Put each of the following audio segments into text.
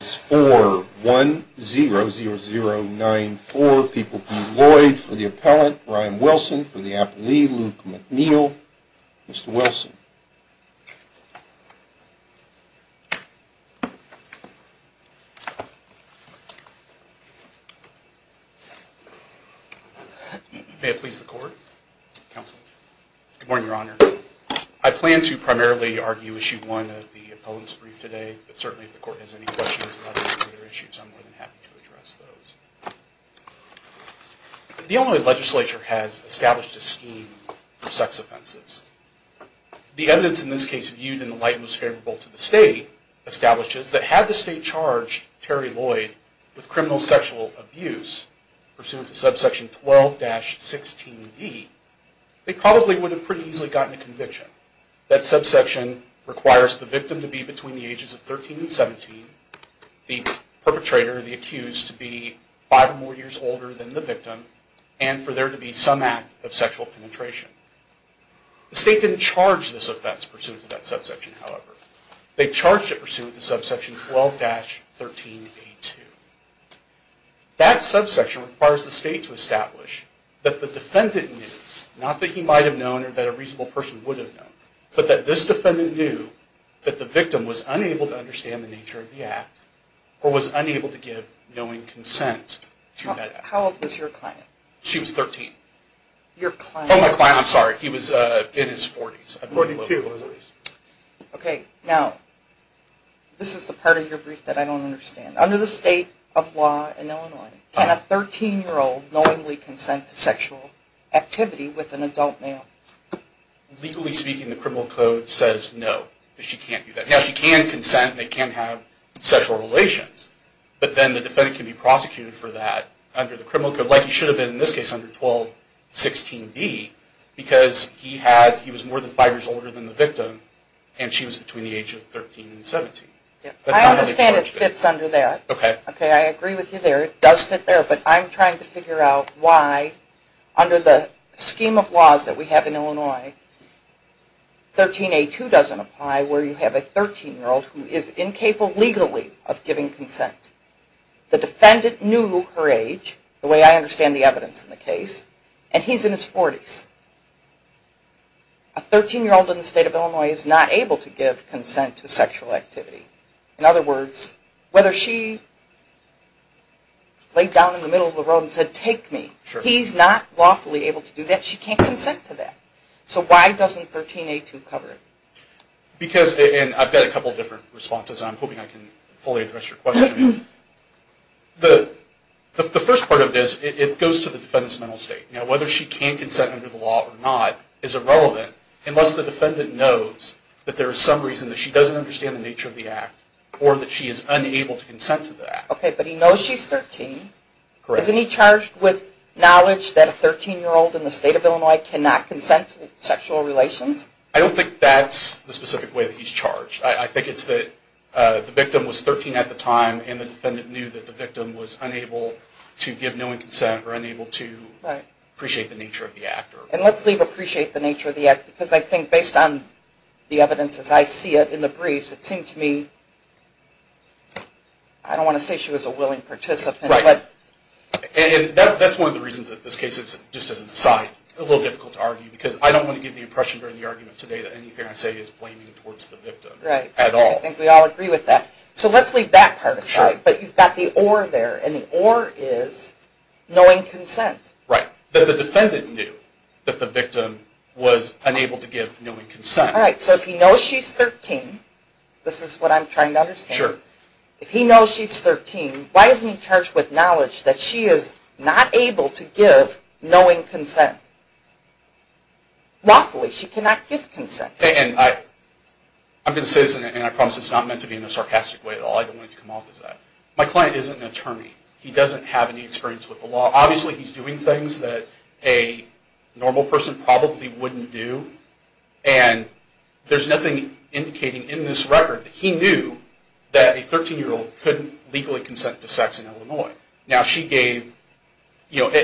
for the appellant, Brian Wilson for the appellee, Luke McNeil. Mr. Wilson. May it please the court, counsel. Good morning, your honor. I plan to primarily argue issue one of the appellant's brief today. But certainly, if the court has any questions about any of their issues, I'm more than happy to address those. The Illinois legislature has established a scheme for sex offenses. The evidence in this case, viewed in the light most favorable to the state, establishes that had the state charged Terry Lloyd with criminal sexual abuse pursuant to subsection 12-16d, they probably would have pretty easily gotten a conviction. That subsection requires the victim to be between the ages of 13 and 17, the perpetrator, the accused, to be five or more years older than the victim, and for there to be some act of sexual penetration. The state didn't charge this offense pursuant to that subsection, however. They charged it pursuant to subsection 12-13a2. That subsection requires the state to establish that the defendant knew, not that he might have known or that a reasonable person would have known, but that this defendant knew that the victim was unable to understand the nature of the act or was unable to give knowing consent to that act. How old was your client? She was 13. Your client... Oh, my client, I'm sorry. He was in his 40s. 42. Okay. Now, this is the part of your brief that I don't understand. Under the state of legally speaking, the criminal code says no, that she can't do that. Now, she can consent, they can have sexual relations, but then the defendant can be prosecuted for that under the criminal code, like he should have been in this case under 12-16b, because he was more than five years older than the victim and she was between the ages of 13 and 17. I understand it fits under that. Okay. Okay, I agree with you there. It does fit there, but I'm trying to figure out why, under the scheme of laws that we have in Illinois, 13a2 doesn't apply where you have a 13-year-old who is incapable legally of giving consent. The defendant knew her age, the way I understand the evidence in the case, and he's in his 40s. A 13-year-old in the state of Illinois is not able to give consent to sexual activity. In other words, whether she laid down in the middle of the road and said, take me, he's not lawfully able to do that, she can't consent to that. So why doesn't 13a2 cover it? Because, and I've got a couple of different responses, and I'm hoping I can fully address your question. The first part of this, it goes to the defendant's mental state. Whether she can consent under the law or not is irrelevant, unless the defendant knows that there is some reason that she doesn't understand the nature of the act, or that she is unable to consent to the act. Okay, but he knows she's 13. Isn't he charged with knowledge that a 13-year-old in the state of Illinois cannot consent to sexual relations? I don't think that's the specific way that he's charged. I think it's that the victim was 13 at the time, and the defendant knew that the victim was unable to give knowing consent, or unable to appreciate the nature of the act. And let's leave appreciate the nature of the act, because I think based on the evidence as I see it in the briefs, it seemed to me, I don't want to say she was a willing participant. Right. And that's one of the reasons that this case is, just as an aside, a little difficult to argue, because I don't want to give the impression during the argument today that anything I say is blaming towards the victim at all. Right. I think we all agree with that. So let's leave that part aside. But you've got the or there, and the or is knowing consent. Right. That the defendant knew that the victim was unable to give knowing consent. Right. So if he knows she's 13, this is what I'm trying to understand, if he knows she's 13, why is he charged with knowledge that she is not able to give knowing consent? Lawfully, she cannot give consent. And I'm going to say this, and I promise it's not meant to be in a sarcastic way at all. I don't want it to come off as that. My client isn't an attorney. He doesn't have any experience with the law. Obviously, he's doing things that a normal person probably wouldn't do. And there's nothing indicating in this record that he knew that a 13-year-old couldn't legally consent to sex in Illinois. Now she gave, you know,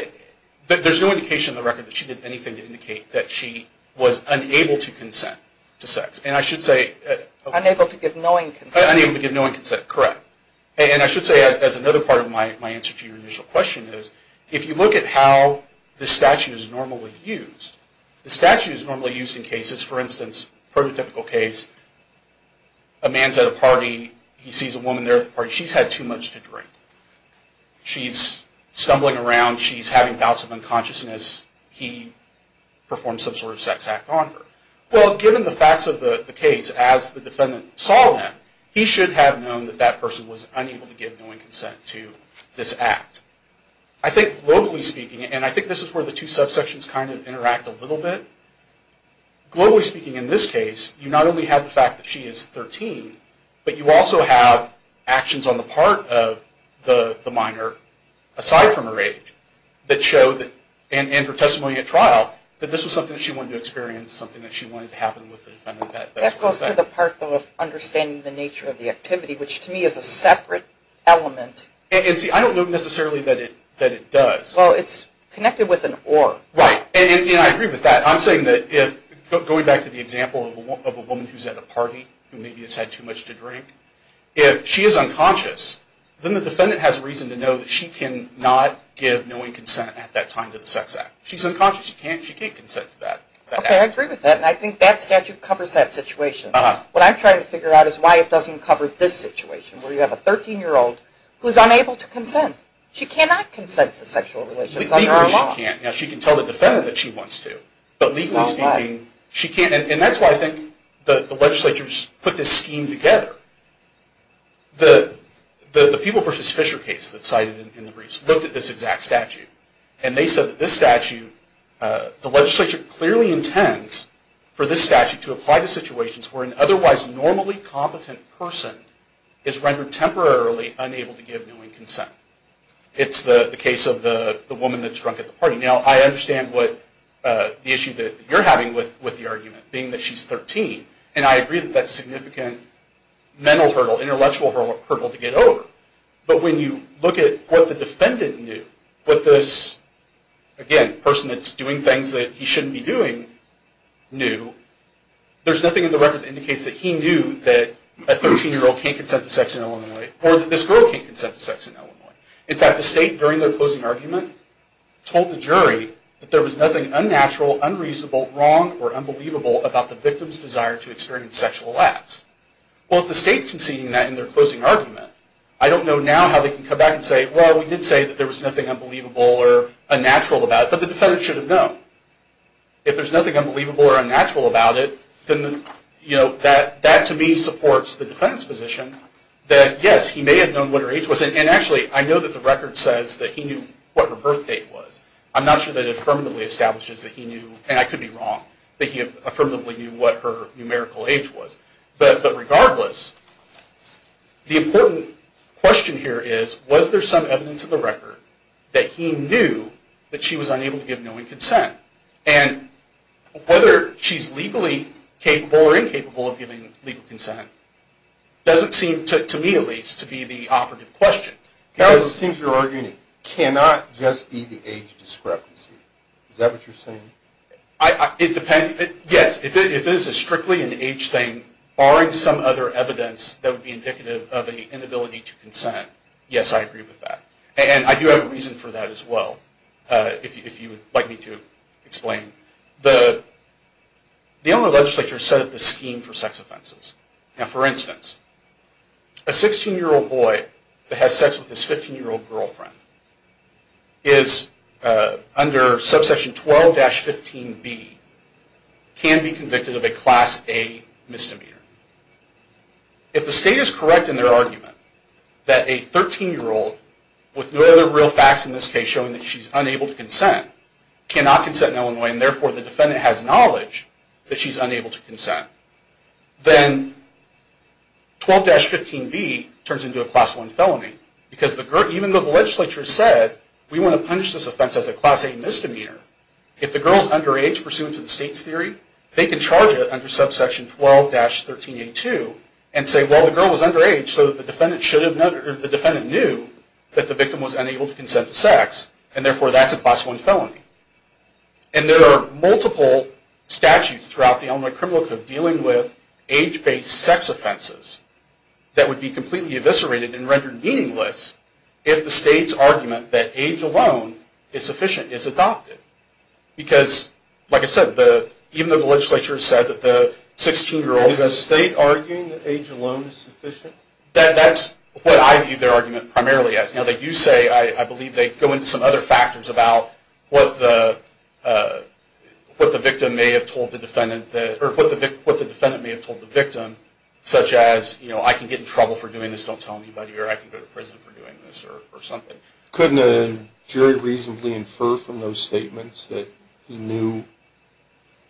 there's no indication in the record that she did anything to indicate that she was unable to consent to sex. And I should say... Unable to give knowing consent. Unable to give knowing consent, correct. And I should say, as another part of my answer to your initial question is, if you look at how the statute is normally used, the statute is normally used in cases, for instance, prototypical case, a man's at a party. He sees a woman there at the party. She's had too much to drink. She's stumbling around. She's having bouts of unconsciousness. He performs some sort of sex act on her. Well, given the facts of the case, as the defendant saw him, he should have known that that person was unable to give knowing consent to this act. I think, locally speaking, and I think this is where the two subsections kind of interact a little bit. Globally speaking, in this case, you not only have the fact that she is 13, but you also have actions on the part of the minor, aside from her age, that show that, and her testimony at trial, that this was something that she wanted to experience, something that she wanted to happen with the defendant. That goes to the part of understanding the nature of the activity, which to me is a separate element. And see, I don't know necessarily that it does. Well, it's connected with an or. Right. And I agree with that. I'm saying that if, going back to the example of a woman who's at a party, who maybe has had too much to drink, if she is unconscious, then the defendant has reason to know that she can not give knowing consent at that time to the sex act. She's unconscious. She can't consent to that. Okay, I agree with that, and I think that statute covers that situation. What I'm trying to figure out is why it doesn't cover this situation, where you have a 13-year-old who is unable to consent. She cannot consent to sexual relations under our law. Legally she can't. Now, she can tell the defendant that she wants to, but legally speaking, she can't. And that's why I think the legislatures put this scheme together. The People v. Fisher case that's cited in the briefs looked at this exact statute, and they said that this statute, the legislature clearly intends for this statute to apply to situations where an otherwise normally competent person is rendered temporarily unable to give knowing consent. It's the case of the woman that's drunk at the party. Now, I understand what the issue that you're having with the argument, being that she's 13, and I agree that that's a significant mental hurdle, intellectual hurdle to get over. But when you look at what the defendant knew, what this, again, person that's doing things that he shouldn't be doing knew, there's nothing in the record that indicates that he knew that a 13-year-old can't consent to sex in Illinois, or that this girl can't consent to sex in Illinois. In fact, the state, during their closing argument, told the jury that there was nothing unnatural, unreasonable, wrong, or unbelievable about the victim's desire to experience sexual acts. Well, if the state's conceding that in their closing argument, I don't know now how they can come back and say, well, we did say that there was nothing unbelievable or unnatural about it, but the defendant should have known. If there's nothing unbelievable or unnatural about it, then, you know, that to me supports the defendant's position that, yes, he may have known what her age was, and actually, I know that the record says that he knew what her birth date was. I'm not sure that it affirmatively establishes that he knew, and I could be wrong, that he affirmatively knew what her numerical age was. But regardless, the important question here is, was there some evidence in the record that he knew that she was unable to give knowing consent? And whether she's legally capable or incapable of giving legal consent doesn't seem, to me at least, to be the operative question. Now, it seems you're arguing it cannot just be the age discrepancy. Is that what you're saying? It depends. Yes, if it is strictly an age thing, barring some other evidence that would be indicative of an inability to consent, yes, I agree with that. And I do have a reason for that as well, if you would like me to explain. The Illinois legislature set up this scheme for sex offenses. Now, for instance, a 16-year-old boy that has sex with his 15-year-old girlfriend is, under subsection 12-15B, can be convicted of a Class A misdemeanor. If the state is correct in their argument that a 13-year-old with no other real facts in this case showing that she's unable to consent cannot consent in Illinois, and therefore the defendant has knowledge that she's unable to consent, then 12-15B turns into a Class 1 felony. Because even though the legislature said, we want to punish this offense as a Class A misdemeanor, if the girl is underage pursuant to the state's budget under subsection 12-13A2, and say, well, the girl was underage, so the defendant knew that the victim was unable to consent to sex, and therefore that's a Class 1 felony. And there are multiple statutes throughout the Illinois Criminal Code dealing with age-based sex offenses that would be completely eviscerated and rendered meaningless if the state's argument that age alone is sufficient is adopted. Because, like I said, even though the legislature said that the 16-year-old... Is the state arguing that age alone is sufficient? That's what I view their argument primarily as. Now that you say, I believe they go into some other factors about what the defendant may have told the victim, such as, you know, I can get in trouble for doing this, don't tell anybody, or I can go to prison for doing this, or something. Couldn't a jury reasonably infer from those statements that he knew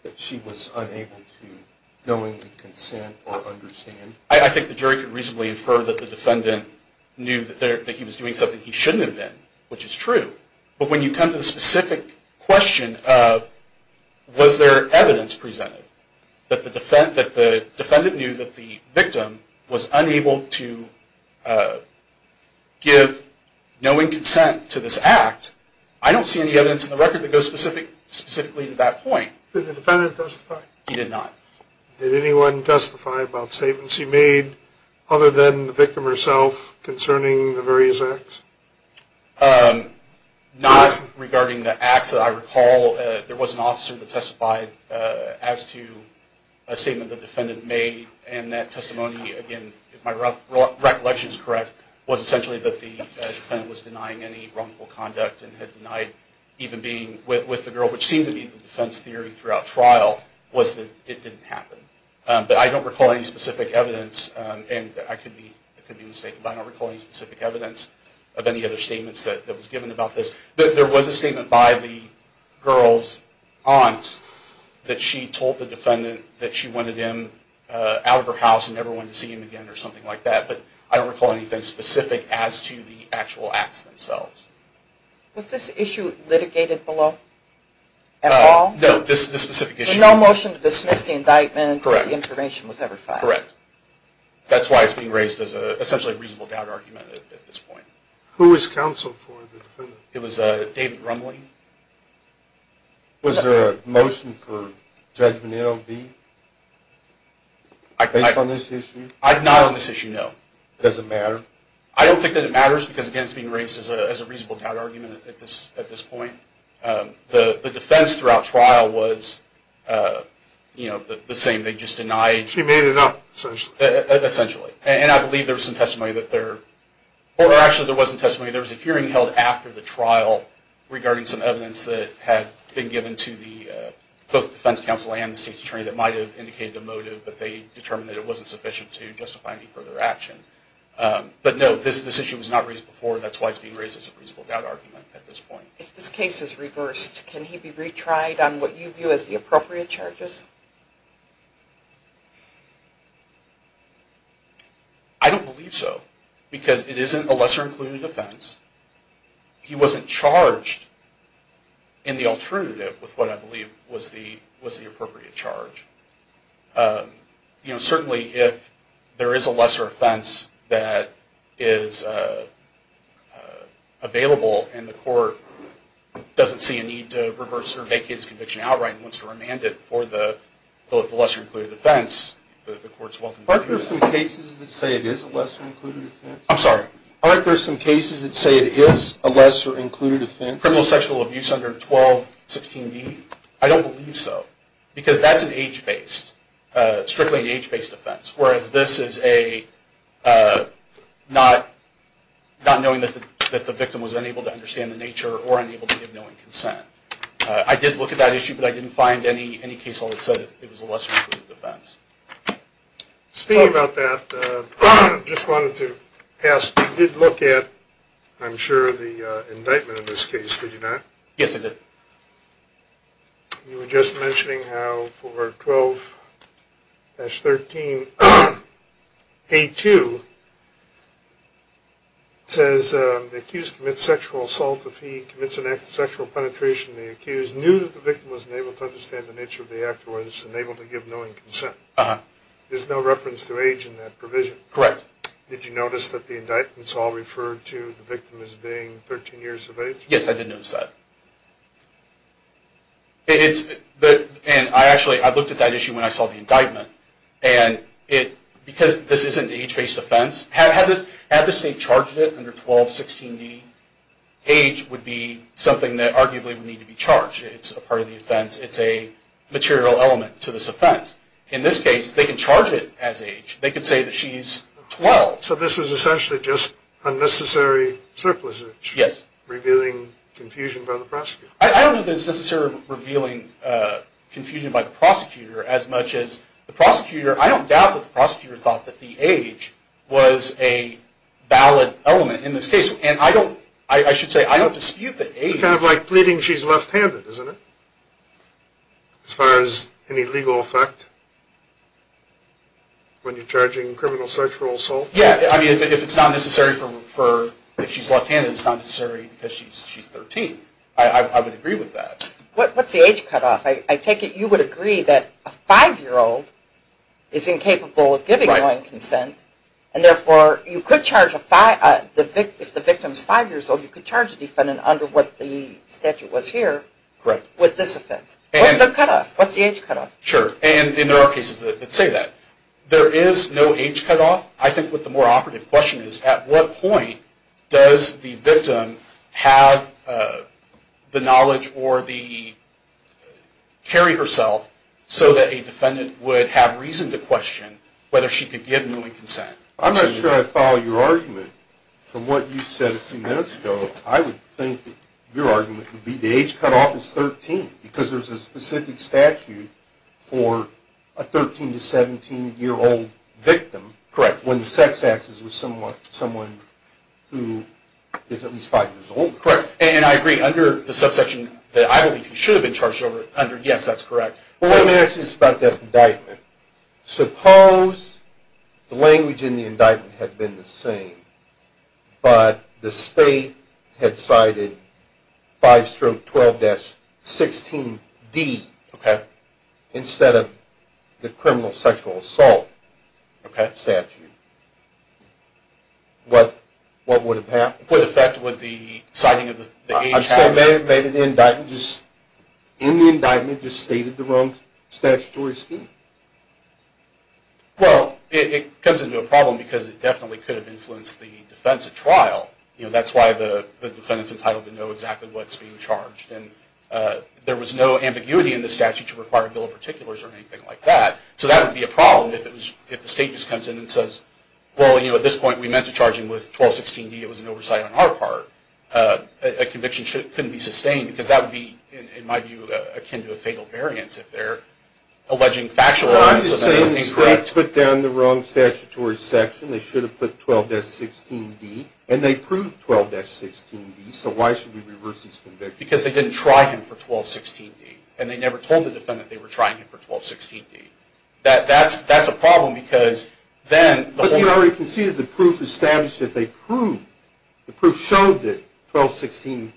that she was unable to knowingly consent or understand? I think the jury could reasonably infer that the defendant knew that he was doing something he shouldn't have been, which is true. But when you come to the specific question of was there evidence presented that the defendant knew that the victim was unable to give knowing consent to this act, I don't see any evidence in the record that goes specifically to that point. Did the defendant testify? He did not. Did anyone testify about statements he made other than the victim herself concerning the various acts? Not regarding the acts that I recall. There was an officer that testified as to a statement the defendant made, and that testimony, again, if my recollection is correct, was essentially that the defendant was denying any wrongful conduct and had denied even being with the girl, which seemed to be the defense theory throughout trial, was that it didn't happen. But I don't recall any specific evidence, and I could be mistaken, but I don't recall any specific evidence of any other statements that was given about this. There was a statement by the girl's aunt that she told the defendant that she wanted him out of her house and never wanted to see him again or something like that, but I don't recall anything specific as to the actual acts themselves. Was this issue litigated below at all? No, this specific issue. There was no motion to dismiss the indictment? Correct. The information was verified? Correct. That's why it's being raised as essentially a reasonable doubt argument at this point. Who was counsel for the defendant? It was David Rumley. Was there a motion for judgment in O.V. based on this issue? Not on this issue, no. Does it matter? I don't think that it matters because, again, it's being raised as a reasonable doubt argument at this point. The defense throughout trial was the same. They just denied... She made it up. Essentially. And I believe there was some testimony that there... Or actually, there wasn't testimony. There was a hearing held after the trial regarding some evidence that had been given to both the defense counsel and the state's attorney that might have indicated the motive, but they determined that it wasn't sufficient to justify any further action. But no, this issue was not raised before. That's why it's being raised as a reasonable doubt argument at this point. If this case is reversed, can he be retried on what you view as the appropriate charges? I don't believe so because it isn't a lesser-included offense. He wasn't charged in the alternative with what I believe was the appropriate charge. Certainly, if there is a lesser offense that is available and the court doesn't see a need to reverse or vacate his conviction outright and wants to remand it for the lesser-included offense, the court's welcome to do that. Aren't there some cases that say it is a lesser-included offense? I'm sorry? Aren't there some cases that say it is a lesser-included offense? Criminal sexual abuse under 1216b? I don't believe so because that's an age-based, strictly an age-based offense, whereas this is not knowing that the victim was unable to understand the nature or unable to give knowing consent. I did look at that issue, but I didn't find any case that said it was a lesser-included offense. Speaking about that, I just wanted to ask, you did look at, I'm sure, the indictment in this case, did you not? Yes, I did. You were just mentioning how for 12-13a2, it says the accused commits sexual assault if he commits an act of sexual penetration. The accused knew that the victim was unable to understand the nature of the act or was unable to give knowing consent. There's no reference to age in that provision. Correct. Did you notice that the indictment is all referred to the victim as being 13 years of age? Yes, I did notice that. And I actually, I looked at that issue when I saw the indictment, and because this isn't an age-based offense, had the state charged it under 1216b, age would be something that arguably would need to be charged. It's a part of the offense. It's a material element to this offense. In this case, they can charge it as age. They can say that she's 12. So this is essentially just unnecessary surplusage. Yes. Revealing confusion by the prosecutor. I don't think it's necessarily revealing confusion by the prosecutor as much as the prosecutor, I don't doubt that the prosecutor thought that the age was a valid element in this case. And I don't, I should say, I don't dispute the age. This is kind of like pleading she's left-handed, isn't it? As far as any legal effect when you're charging criminal sexual assault? Yes. I mean, if it's not necessary for, if she's left-handed, it's not necessary because she's 13. I would agree with that. What's the age cutoff? I take it you would agree that a five-year-old is incapable of giving knowing consent, and therefore, you could charge a five, if the victim's five years old, you could charge a defendant under what the statute was here with this offense. What's the cutoff? What's the age cutoff? Sure. And there are cases that say that. There is no age cutoff. I think what the more operative question is, at what point does the victim have the knowledge or the, carry herself so that a defendant would have reason to question whether she could give knowing consent? I'm not sure I follow your argument. From what you said a few minutes ago, I would think that your argument would be the age cutoff is 13 because there's a specific statute for a 13 to 17-year-old victim. Correct. When the sex act is with someone who is at least five years old. Correct. And I agree, under the subsection that I believe she should have been charged under, yes, that's correct. Well, let me ask you this about that indictment. Suppose the language in the indictment had been the same, but the state had cited 5-12-16D instead of the criminal sexual assault statute. What would have happened? I'm saying maybe the indictment just stated the wrong statutory scheme. Well, it comes into a problem because it definitely could have influenced the defense at trial. That's why the defendant is entitled to know exactly what's being charged. There was no ambiguity in the statute to require a bill of particulars or anything like that. So that would be a problem if the state just comes in and says, well, at this point we 12-16D, it was an oversight on our part. A conviction couldn't be sustained because that would be, in my view, akin to a fatal variance if they're alleging factual elements of that. Well, I'm just saying the state put down the wrong statutory section. They should have put 12-16D. And they proved 12-16D. So why should we reverse this conviction? Because they didn't try him for 12-16D. And they never told the defendant they were trying him for 12-16D. That's a problem because then the whole... The proof showed that 12-16D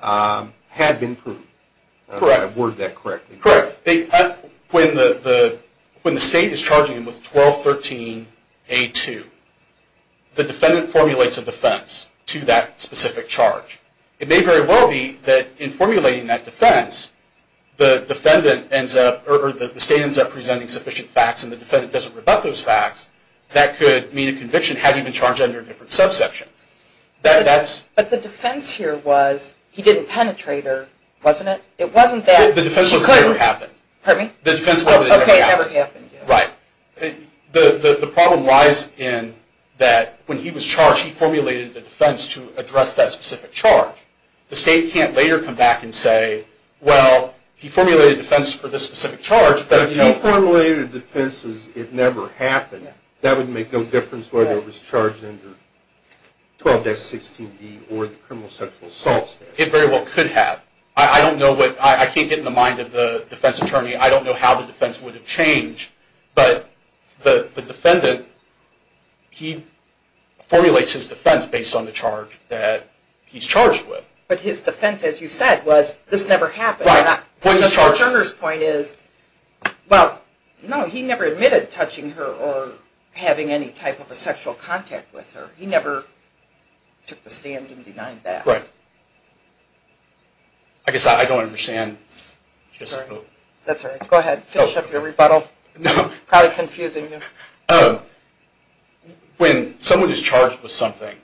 had been proved. Correct. If I worded that correctly. Correct. When the state is charging him with 12-13A2, the defendant formulates a defense to that specific charge. It may very well be that in formulating that defense, the defendant ends up, or the state ends up presenting sufficient facts and the defendant doesn't rebut those facts, that could mean a conviction had he been charged under a different subsection. But the defense here was he didn't penetrate her, wasn't it? It wasn't that... The defense was that it never happened. Pardon me? The defense was that it never happened. Okay, it never happened. Right. The problem lies in that when he was charged, he formulated a defense to address that specific charge. The state can't later come back and say, well, he formulated a defense for this specific charge, but... If he formulated a defense as it never happened, that would make no difference whether it was charged under 12-16D or the criminal sexual assault statute. It very well could have. I don't know what... I can't get in the mind of the defense attorney. I don't know how the defense would have changed, but the defendant, he formulates his defense based on the charge that he's charged with. But his defense, as you said, was this never happened. Right. But Mr. Scherner's point is, well, no, he never admitted touching her or having any type of a sexual contact with her. He never took the stand and denied that. Right. I guess I don't understand. Sorry. That's all right. Go ahead. Finish up your rebuttal. No. Probably confusing you. When someone is charged with something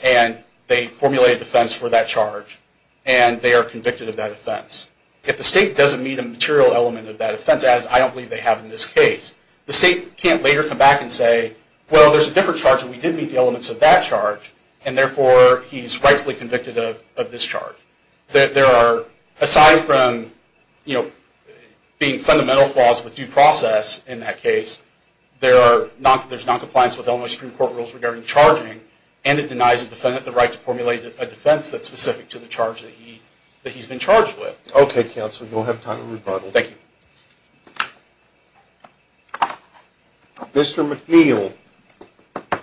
and they formulate a defense for that charge and they are convicted of that offense, if the state doesn't meet a material element of that offense, as I don't believe they have in this case, the state can't later come back and say, well, there's a different charge and we did meet the elements of that charge and therefore he's rightfully convicted of this charge. There are, aside from being fundamental flaws with due process in that case, there's noncompliance with Illinois Supreme Court rules regarding charging and it denies the defendant the right to formulate a defense that's specific to the charge that he's been charged with. Okay, counsel. You'll have time to rebuttal. Thank you. Mr. McNeil. Thank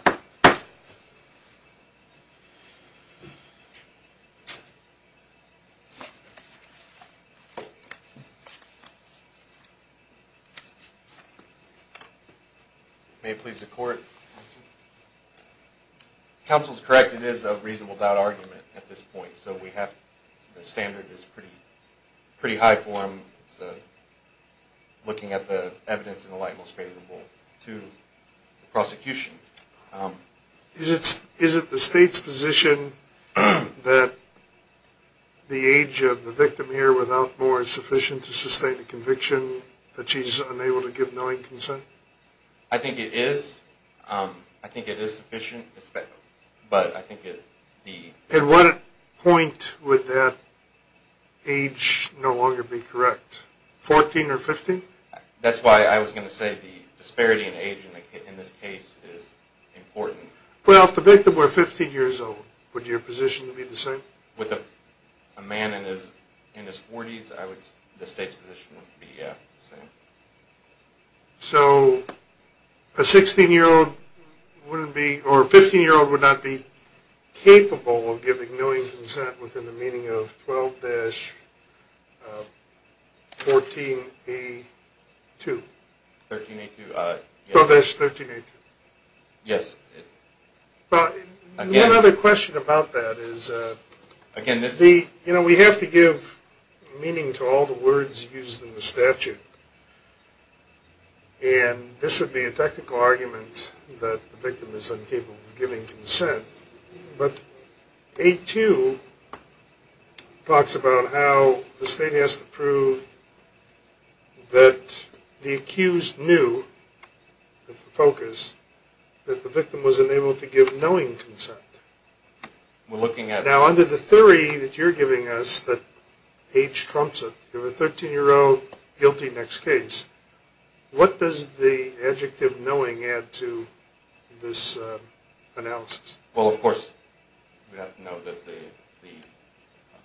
you. May it please the court. Counsel is correct. It is a reasonable doubt argument at this point. So the standard is pretty high for him. It's looking at the evidence in the light most favorable to prosecution. Is it the state's position that the age of the victim here without more is sufficient to sustain a conviction that she's unable to give knowing consent? I think it is. I think it is sufficient, but I think that the... At what point would that age no longer be correct, 14 or 15? That's why I was going to say the disparity in age in this case is important. Well, if the victim were 15 years old, would your position be the same? With a man in his 40s, the state's position would be the same. So a 16-year-old wouldn't be, or a 15-year-old would not be capable of giving knowing consent within the meaning of 12-14A2. 13A2. 12-13A2. Yes. Well, another question about that is, you know, we have to give meaning to all the words used in the statute, and this would be a technical argument that the victim is incapable of giving consent, but A2 talks about how the state has to prove that the accused knew, that's the focus, that the victim was unable to give knowing consent. We're looking at... Now, under the theory that you're giving us, that age trumps it, you have a 13-year-old guilty in the next case, what does the adjective knowing add to this analysis? Well, of course, we have to know that the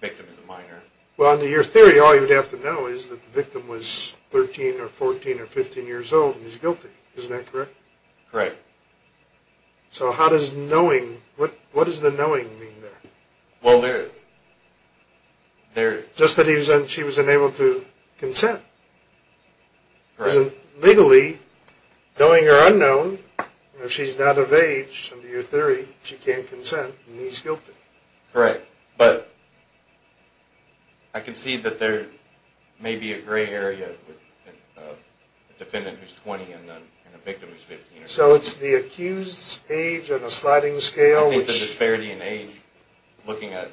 victim is a minor. Well, under your theory, all you'd have to know is that the victim was 13 or 14 or 15 years old and he's guilty. Isn't that correct? Correct. So how does knowing, what does the knowing mean there? Well, there... Just that she was unable to consent. Correct. Because legally, knowing or unknown, if she's not of age, under your theory, she can't consent and he's guilty. Correct. But I can see that there may be a gray area with the defendant who's 20 and the victim who's 15. So it's the accused's age on a sliding scale, which... I think the disparity in age, looking at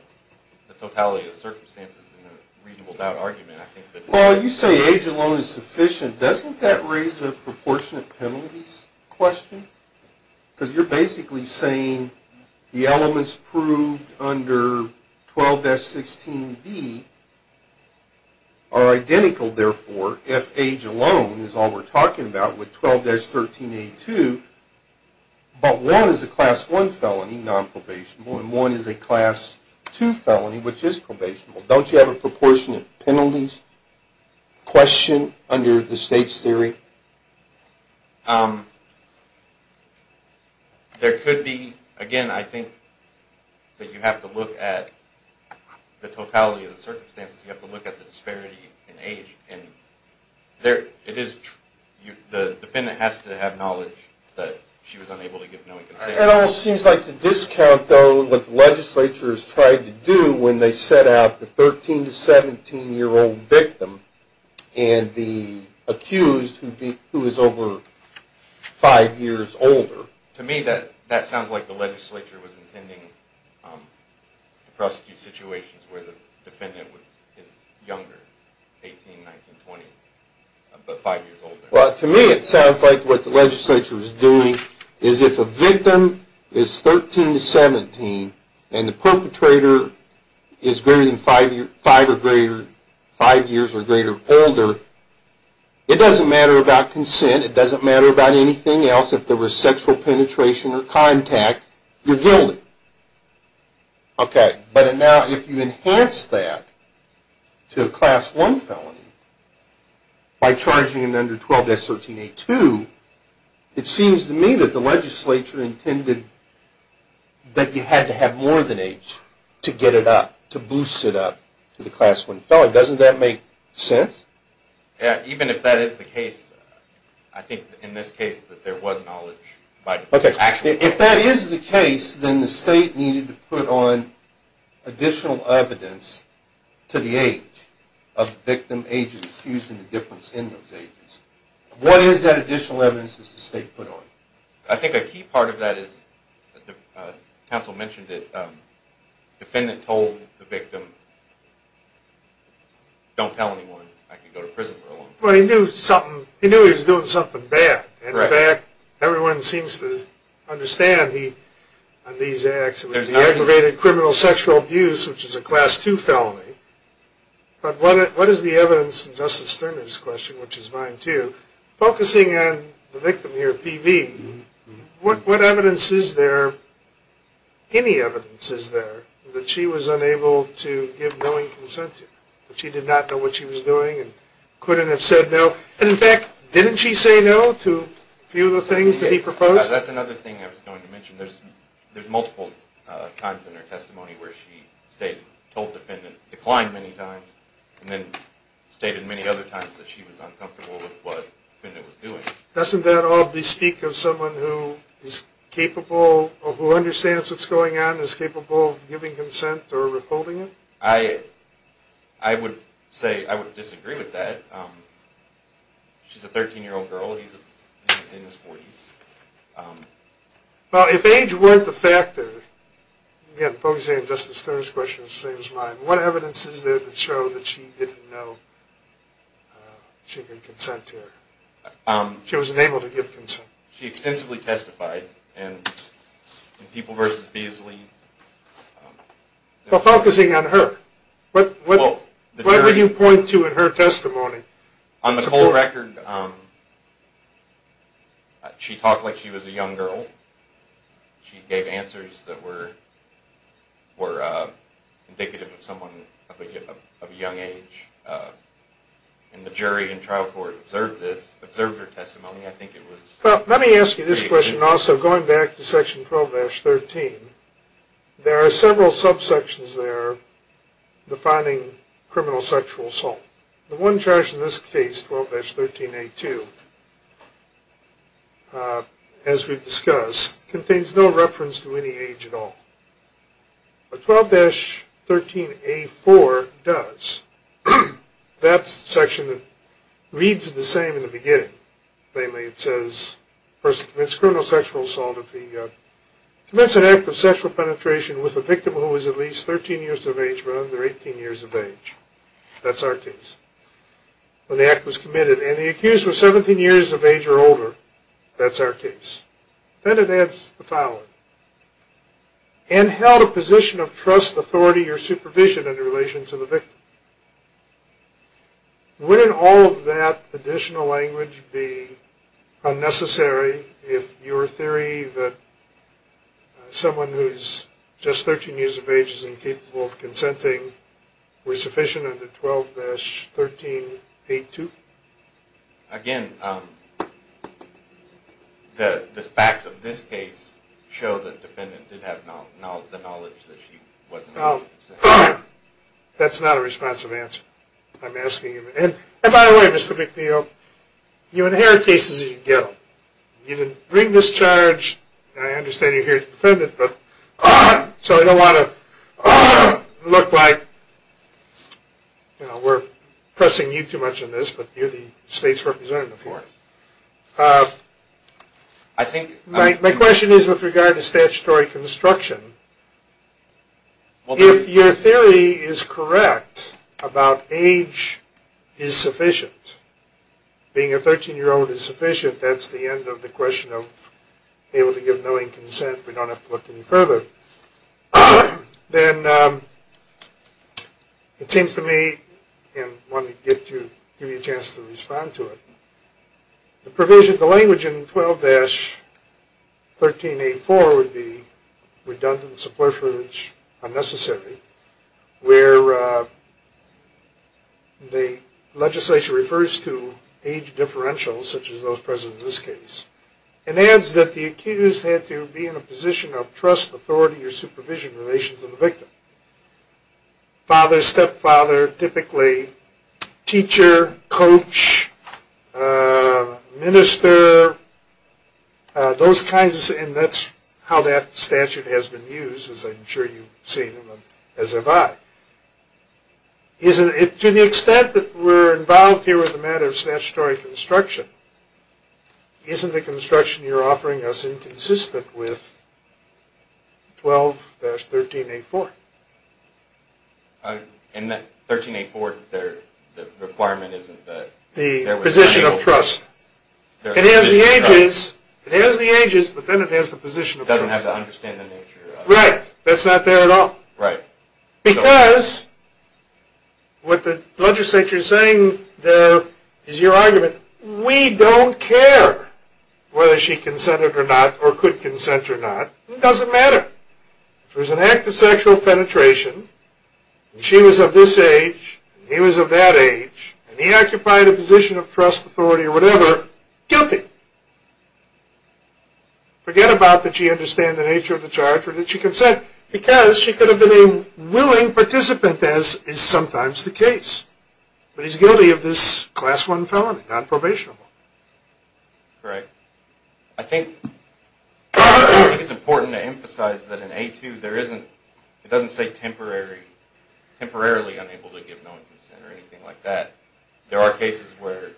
the totality of circumstances in a reasonable doubt argument, I think that... Well, you say age alone is sufficient. Doesn't that raise a proportionate penalties question? Because you're basically saying the elements proved under 12-16B are identical, therefore, if age alone is all we're talking about with 12-13A2, but one is a Class I felony, nonprobationable, and one is a Class II felony, which is probationable. Don't you have a proportionate penalties question under the state's theory? There could be. Again, I think that you have to look at the totality of the circumstances. You have to look at the disparity in age. And the defendant has to have knowledge that she was unable to give knowing consent. It almost seems like to discount, though, what the legislature has tried to do when they set out the 13-17 year old victim and the accused who is over 5 years older. To me, that sounds like the legislature was intending to prosecute situations where the defendant was younger, 18, 19, 20, but 5 years older. Well, to me, it sounds like what the legislature is doing is if a victim is 13-17 and the perpetrator is 5 years or greater older, it doesn't matter about consent. It doesn't matter about anything else. If there was sexual penetration or contact, you're guilty. But now if you enhance that to a Class I felony by charging them under 12-13A2, it seems to me that the legislature intended that you had to have more than age to get it up, to boost it up to the Class I felony. Doesn't that make sense? Yeah, even if that is the case. I think in this case that there was knowledge. If that is the case, then the state needed to put on additional evidence to the age of the victim, age of the accused, and the difference in those ages. What is that additional evidence that the state put on? I think a key part of that is, the counsel mentioned it, the defendant told the victim, don't tell anyone, I can go to prison for a long time. Well, he knew he was doing something bad. In fact, everyone seems to understand on these acts, it was aggravated criminal sexual abuse, which is a Class II felony. But what is the evidence in Justice Sterner's question, which is mine too, focusing on the victim here, P.V., what evidence is there, any evidence is there, that she was unable to give knowing consent to? That she did not know what she was doing and couldn't have said no? And in fact, didn't she say no to a few of the things that he proposed? That's another thing I was going to mention. There's multiple times in her testimony where she told the defendant, declined many times, and then stated many other times that she was uncomfortable with what the defendant was doing. Doesn't that all bespeak of someone who is capable, or who understands what's going on, is capable of giving consent or withholding it? I would say I would disagree with that. She's a 13-year-old girl, he's in his 40s. Well, if age weren't the factor, again, focusing on Justice Sterner's question, which is mine, what evidence is there to show that she didn't know she could consent to her? She wasn't able to give consent. She extensively testified in People v. Beasley. Well, focusing on her, what would you point to in her testimony? On the whole record, she talked like she was a young girl. She gave answers that were indicative of someone of a young age. And the jury in trial court observed her testimony. Let me ask you this question also, going back to Section 12-13. There are several subsections there defining criminal sexual assault. The one charge in this case, 12-13A2, as we've discussed, contains no reference to any age at all. But 12-13A4 does. That's the section that reads the same in the beginning. Namely, it says a person commits criminal sexual assault if he commits an act of sexual penetration with a victim who is at least 13 years of age but under 18 years of age. That's our case. When the act was committed. And the accused was 17 years of age or older. That's our case. Then it adds the following. And held a position of trust, authority, or supervision in relation to the victim. Wouldn't all of that additional language be unnecessary if your theory that someone who's just 13 years of age is incapable of consenting were sufficient under 12-13A2? Again, the facts of this case show that the defendant did have the knowledge that she wasn't able to consent. That's not a responsive answer. I'm asking you. And by the way, Mr. McNeil, you inherit cases as you go. You didn't bring this charge. I understand you're here as a defendant. So I don't want to look like we're pressing you too much on this, but you're the state's representative here. My question is with regard to statutory construction. If your theory is correct about age is sufficient, being a 13-year-old is sufficient, that's the end of the question of able to give knowing consent. We don't have to look any further. Then it seems to me, and I want to give you a chance to respond to it, the language in 12-13A4 would be redundant, subversive, unnecessary, where the legislation refers to age differentials such as those present in this case. It adds that the accused had to be in a position of trust, authority, or supervision relations of the victim. Father, stepfather, typically teacher, coach, minister, those kinds of things. And that's how that statute has been used, as I'm sure you've seen as have I. To the extent that we're involved here with the matter of statutory construction, isn't the construction you're offering us inconsistent with 12-13A4? In that 13A4, the requirement isn't that there was a single... The position of trust. It has the ages, but then it has the position of trust. It doesn't have to understand the nature of... Right. That's not there at all. Right. Because what the legislature is saying is your argument. We don't care whether she consented or not, or could consent or not. It doesn't matter. If it was an act of sexual penetration, and she was of this age, and he was of that age, and he occupied a position of trust, authority, or whatever, guilty. Forget about that she understood the nature of the charge or that she consented. Because she could have been a willing participant, as is sometimes the case. But he's guilty of this Class I felony, non-probationable. Correct. I think it's important to emphasize that in A2, there isn't... It doesn't say temporarily unable to give no consent or anything like that. There are cases where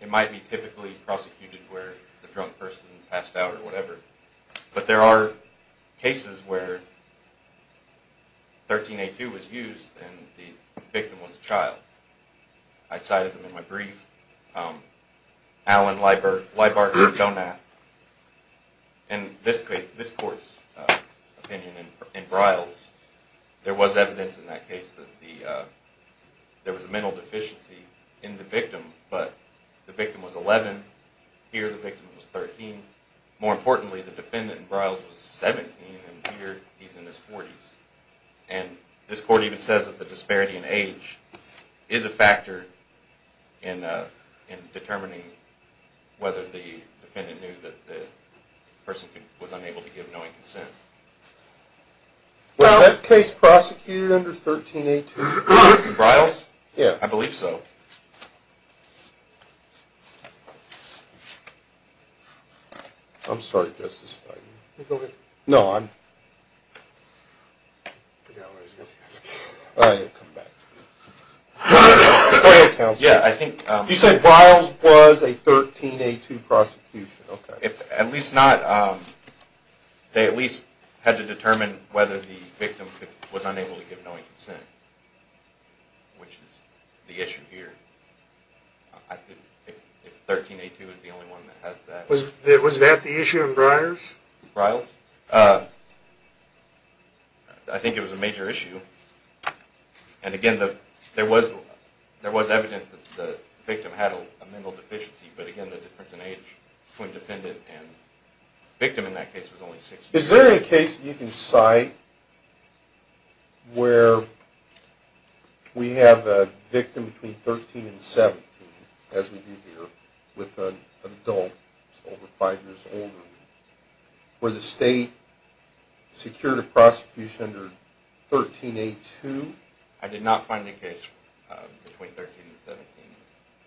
it might be typically prosecuted where the drunk person passed out or whatever. But there are cases where 13A2 was used and the victim was a child. I cited them in my brief. Alan Leibart and Donath. In this court's opinion in Bryles, there was evidence in that case that there was a mental deficiency in the victim. But the victim was 11. Here the victim was 13. More importantly, the defendant in Bryles was 17, and here he's in his 40s. And this court even says that the disparity in age is a factor in determining whether the defendant knew that the person was unable to give no consent. Was that case prosecuted under 13A2? In Bryles? Yeah. I believe so. I'm sorry, Justice Stein. Go ahead. No, I'm... I forgot what I was going to ask. All right, I'll come back to you. Go ahead, counsel. Yeah, I think... You said Bryles was a 13A2 prosecution. Okay. If at least not... They at least had to determine whether the victim was unable to give no consent, which is the issue here. I think 13A2 is the only one that has that. Was that the issue in Bryles? In Bryles? I think it was a major issue. And, again, there was evidence that the victim had a mental deficiency. But, again, the difference in age between defendant and victim in that case was only 16. Is there any case that you can cite where we have a victim between 13 and 17, as we do here, with an adult over 5 years older, where the state secured a prosecution under 13A2? I did not find any case between 13 and 17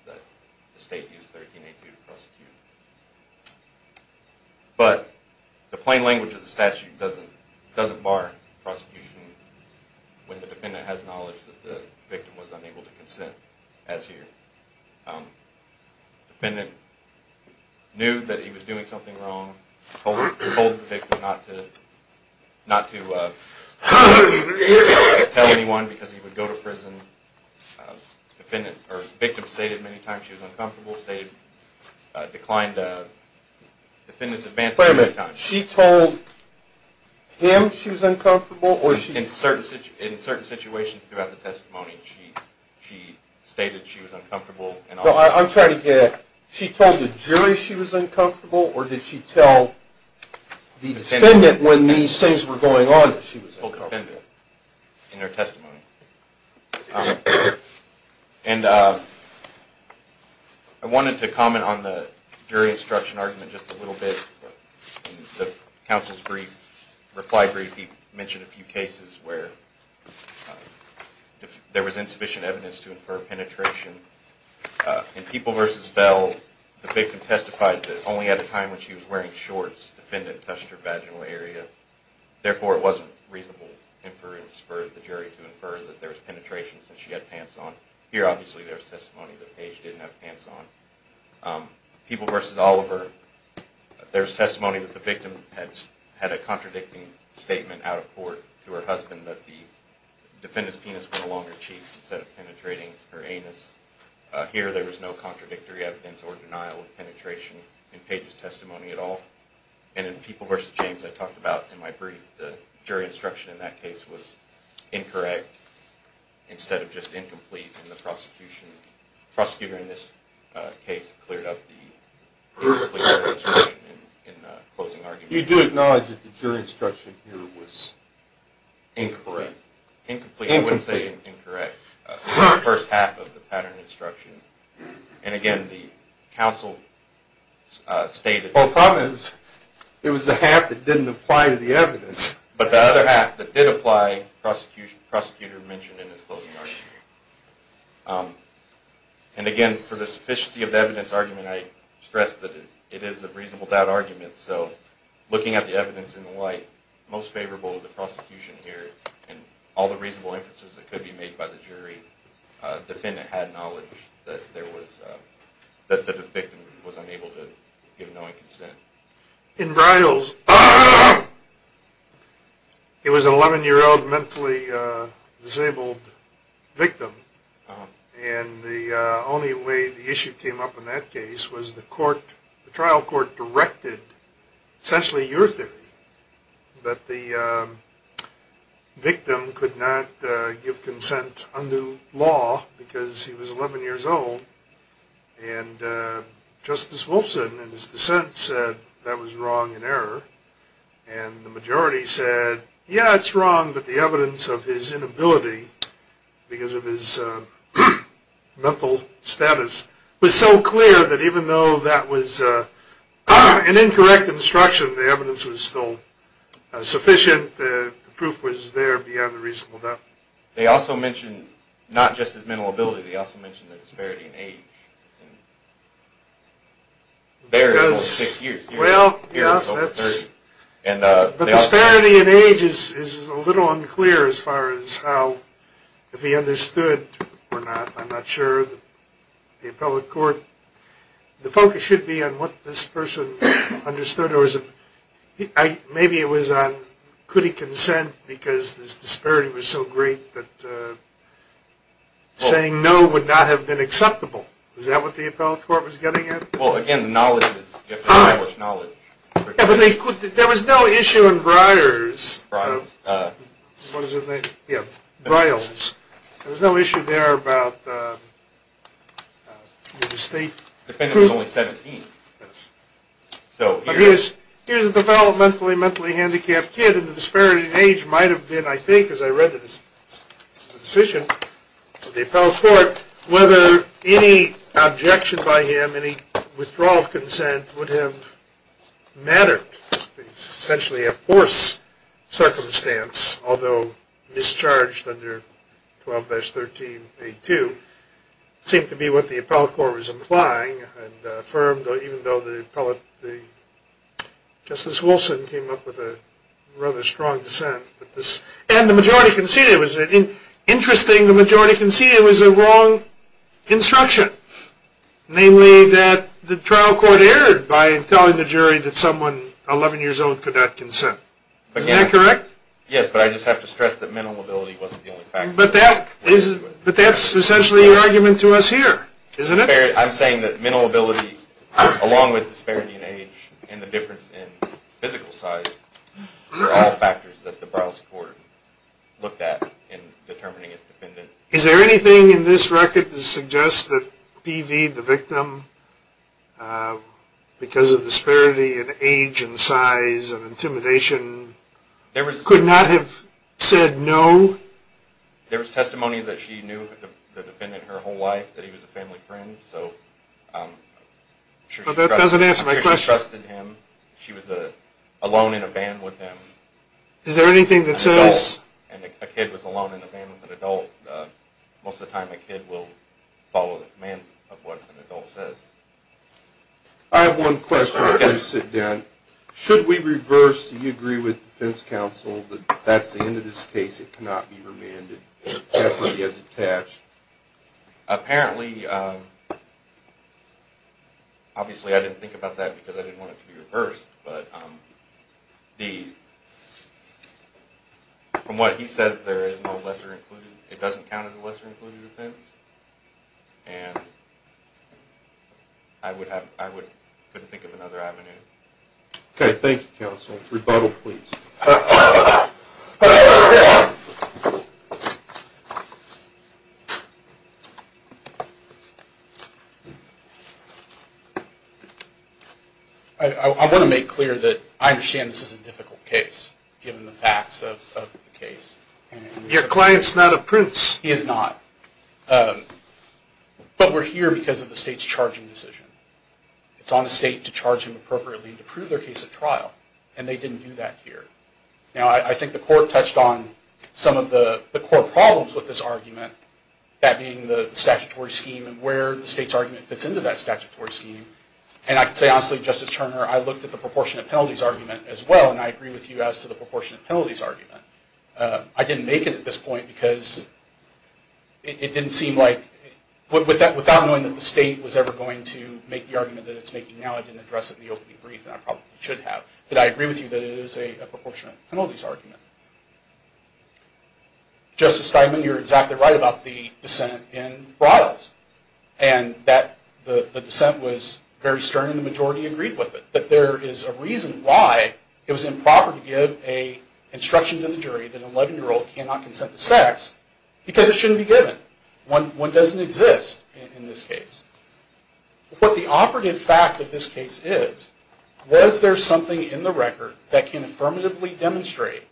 that the state used 13A2 to prosecute. But the plain language of the statute doesn't bar prosecution when the defendant has knowledge that the victim was unable to consent, as here. Defendant knew that he was doing something wrong. He told the victim not to tell anyone because he would go to prison. Victim stated many times she was uncomfortable. State declined the defendant's advances many times. Wait a minute. She told him she was uncomfortable? In certain situations throughout the testimony, she stated she was uncomfortable. I'm trying to hear. She told the jury she was uncomfortable, or did she tell the defendant when these things were going on that she was uncomfortable? In her testimony. And I wanted to comment on the jury instruction argument just a little bit. In the counsel's brief, reply brief, he mentioned a few cases where there was insufficient evidence to infer penetration. In People v. Vell, the victim testified that only at a time when she was wearing shorts, the defendant touched her vaginal area. Therefore, it wasn't reasonable inference for the jury to infer that there was penetration since she had pants on. Here, obviously, there's testimony that Paige didn't have pants on. People v. Oliver, there's testimony that the victim had a contradicting statement out of court to her husband that the defendant's penis was along her cheeks instead of penetrating her anus. Here, there was no contradictory evidence or denial of penetration in Paige's testimony at all. And in People v. James, I talked about in my brief, the jury instruction in that case was incorrect instead of just incomplete in the prosecution. The prosecutor in this case cleared up the incomplete instruction in the closing argument. You do acknowledge that the jury instruction here was incorrect? Incomplete. Incomplete. I wouldn't say incorrect. The first half of the pattern instruction. And again, the counsel stated... Well, sometimes it was the half that didn't apply to the evidence. But the other half that did apply, the prosecutor mentioned in his closing argument. And again, for the sufficiency of the evidence argument, I stressed that it is a reasonable doubt argument. So, looking at the evidence in the light, most favorable to the prosecution here. And all the reasonable inferences that could be made by the jury, the defendant had knowledge that the victim was unable to give knowing consent. In Briles, it was an 11-year-old mentally disabled victim. And the only way the issue came up in that case was the trial court directed, essentially your theory, that the victim could not give consent under law because he was 11 years old. And Justice Wolfson, in his dissent, said that was wrong and error. And the majority said, yeah, it's wrong, but the evidence of his inability, because of his mental status, was so clear that even though that was an incorrect instruction, the evidence was still sufficient. The proof was there beyond the reasonable doubt. They also mentioned, not just his mental ability, they also mentioned the disparity in age. The disparity in age is a little unclear as far as how, if he understood or not. I'm not sure. The appellate court, the focus should be on what this person understood. Maybe it was on, could he consent because this disparity was so great that saying no would not have been acceptable. Is that what the appellate court was getting at? Well, again, the knowledge is, you have to establish knowledge. Yeah, but there was no issue in Breyer's. Breyer's. What is his name? Yeah. Breyer's. There was no issue there about the state. The defendant was only 17. Yes. Here's a developmentally, mentally handicapped kid, and the disparity in age might have been, I think, because I read the decision of the appellate court, whether any objection by him, any withdrawal of consent would have mattered. It's essentially a forced circumstance, although mischarged under 12-13-82. It seemed to be what the appellate court was implying and affirmed, even though the appellate, Justice Wilson came up with a rather strong dissent. And the majority conceded. It was interesting the majority conceded it was a wrong instruction, namely that the trial court erred by telling the jury that someone 11 years old could not consent. Is that correct? Yes, but I just have to stress that mental mobility wasn't the only factor. But that's essentially your argument to us here, isn't it? I'm saying that mental ability, along with disparity in age and the difference in physical size, are all factors that the Browse Court looked at in determining a defendant. Is there anything in this record that suggests that P.V., the victim, because of disparity in age and size and intimidation, could not have said no? There was testimony that she knew the defendant her whole life, that he was a family friend. But that doesn't answer my question. She trusted him. She was alone in a van with him. Is there anything that says... And a kid was alone in a van with an adult. Most of the time a kid will follow the commands of what an adult says. I have one question. Should we reverse, do you agree with defense counsel, that that's the end of this case? It cannot be remanded? It definitely is attached. Apparently, obviously I didn't think about that because I didn't want it to be reversed. But from what he says, there is no lesser included. It doesn't count as a lesser included offense. And I couldn't think of another avenue. Okay, thank you, counsel. Rebuttal, please. I want to make clear that I understand this is a difficult case, given the facts of the case. Your client's not a prince. He is not. But we're here because of the state's charging decision. It's on the state to charge him appropriately and to prove their case at trial. And they didn't do that here. Now, I think the court touched on some of the core problems with this argument, that being the statutory scheme and where the state's argument fits into that statutory scheme. And I can say honestly, Justice Turner, I looked at the proportionate penalties argument as well, and I agree with you as to the proportionate penalties argument. I didn't make it at this point because it didn't seem like, without knowing that the state was ever going to make the argument that it's making now, I didn't address it in the opening brief, and I probably should have. But I agree with you that it is a proportionate penalties argument. Justice Steinman, you're exactly right about the dissent in Bryles, and that the dissent was very stern and the majority agreed with it. But there is a reason why it was improper to give an instruction to the jury that an 11-year-old cannot consent to sex, because it shouldn't be given. One doesn't exist in this case. But the operative fact of this case is, was there something in the record that can affirmatively demonstrate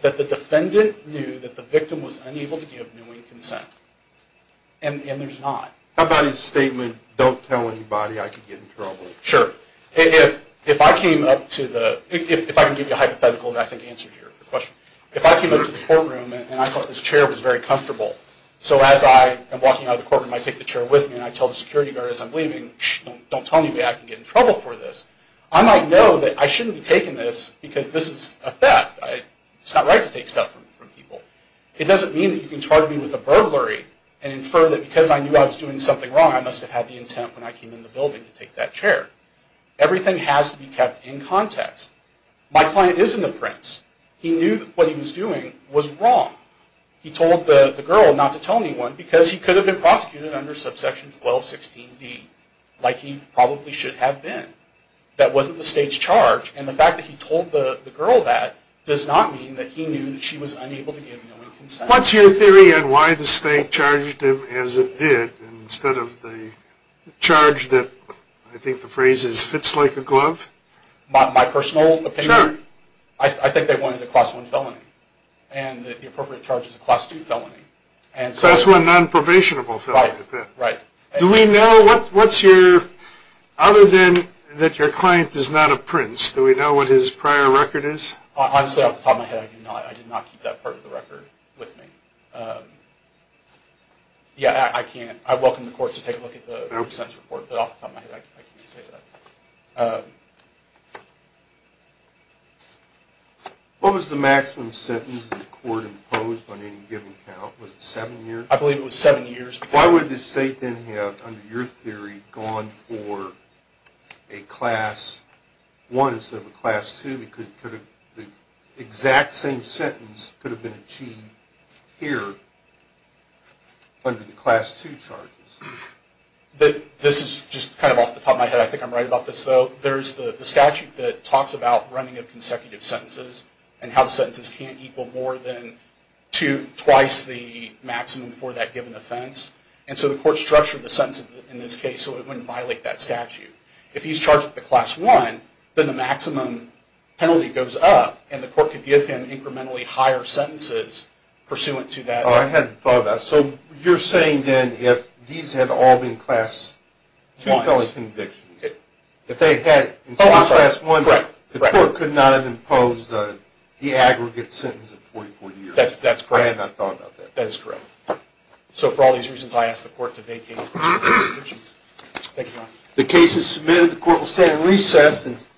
that the defendant knew that the victim was unable to give knowing consent? And there's not. Sure. If I came up to the... If I can give you a hypothetical that I think answers your question. If I came up to the courtroom and I thought this chair was very comfortable, so as I am walking out of the courtroom, I take the chair with me and I tell the security guard as I'm leaving, don't tell anybody I can get in trouble for this, I might know that I shouldn't be taking this because this is a theft. It's not right to take stuff from people. It doesn't mean that you can charge me with a burglary and infer that because I knew I was doing something wrong, I must have had the intent when I came in the building to take that chair. Everything has to be kept in context. My client isn't a prince. He knew that what he was doing was wrong. He told the girl not to tell anyone because he could have been prosecuted under subsection 1216D, like he probably should have been. That wasn't the state's charge, and the fact that he told the girl that does not mean that he knew that she was unable to give knowing consent. What's your theory on why the state charged him as it did instead of the charge that, I think the phrase is, fits like a glove? My personal opinion? Sure. I think they wanted a class 1 felony, and the appropriate charge is a class 2 felony. Class 1 non-probationable felony. Right. Do we know what's your, other than that your client is not a prince, do we know what his prior record is? Honestly, off the top of my head, I do not. I did not keep that part of the record with me. Yeah, I can't. I welcome the court to take a look at the consent report, but off the top of my head, I can't say that. What was the maximum sentence the court imposed on any given count? Was it 7 years? I believe it was 7 years. Why would the state then have, under your theory, gone for a class 1 instead of a class 2? The exact same sentence could have been achieved here under the class 2 charges. This is just kind of off the top of my head. I think I'm right about this, though. There's the statute that talks about running of consecutive sentences and how the sentences can't equal more than twice the maximum for that given offense. And so the court structured the sentence in this case so it wouldn't violate that statute. If he's charged with a class 1, then the maximum penalty goes up and the court could give him incrementally higher sentences pursuant to that. I hadn't thought of that. So you're saying then if these had all been class 1 convictions, if they had class 1 convictions, the court could not have imposed the aggregate sentence of 44 years. That's correct. I had not thought about that. That is correct. So for all these reasons, I ask the court to vacate the convictions. The case is submitted. The court will stand in recess.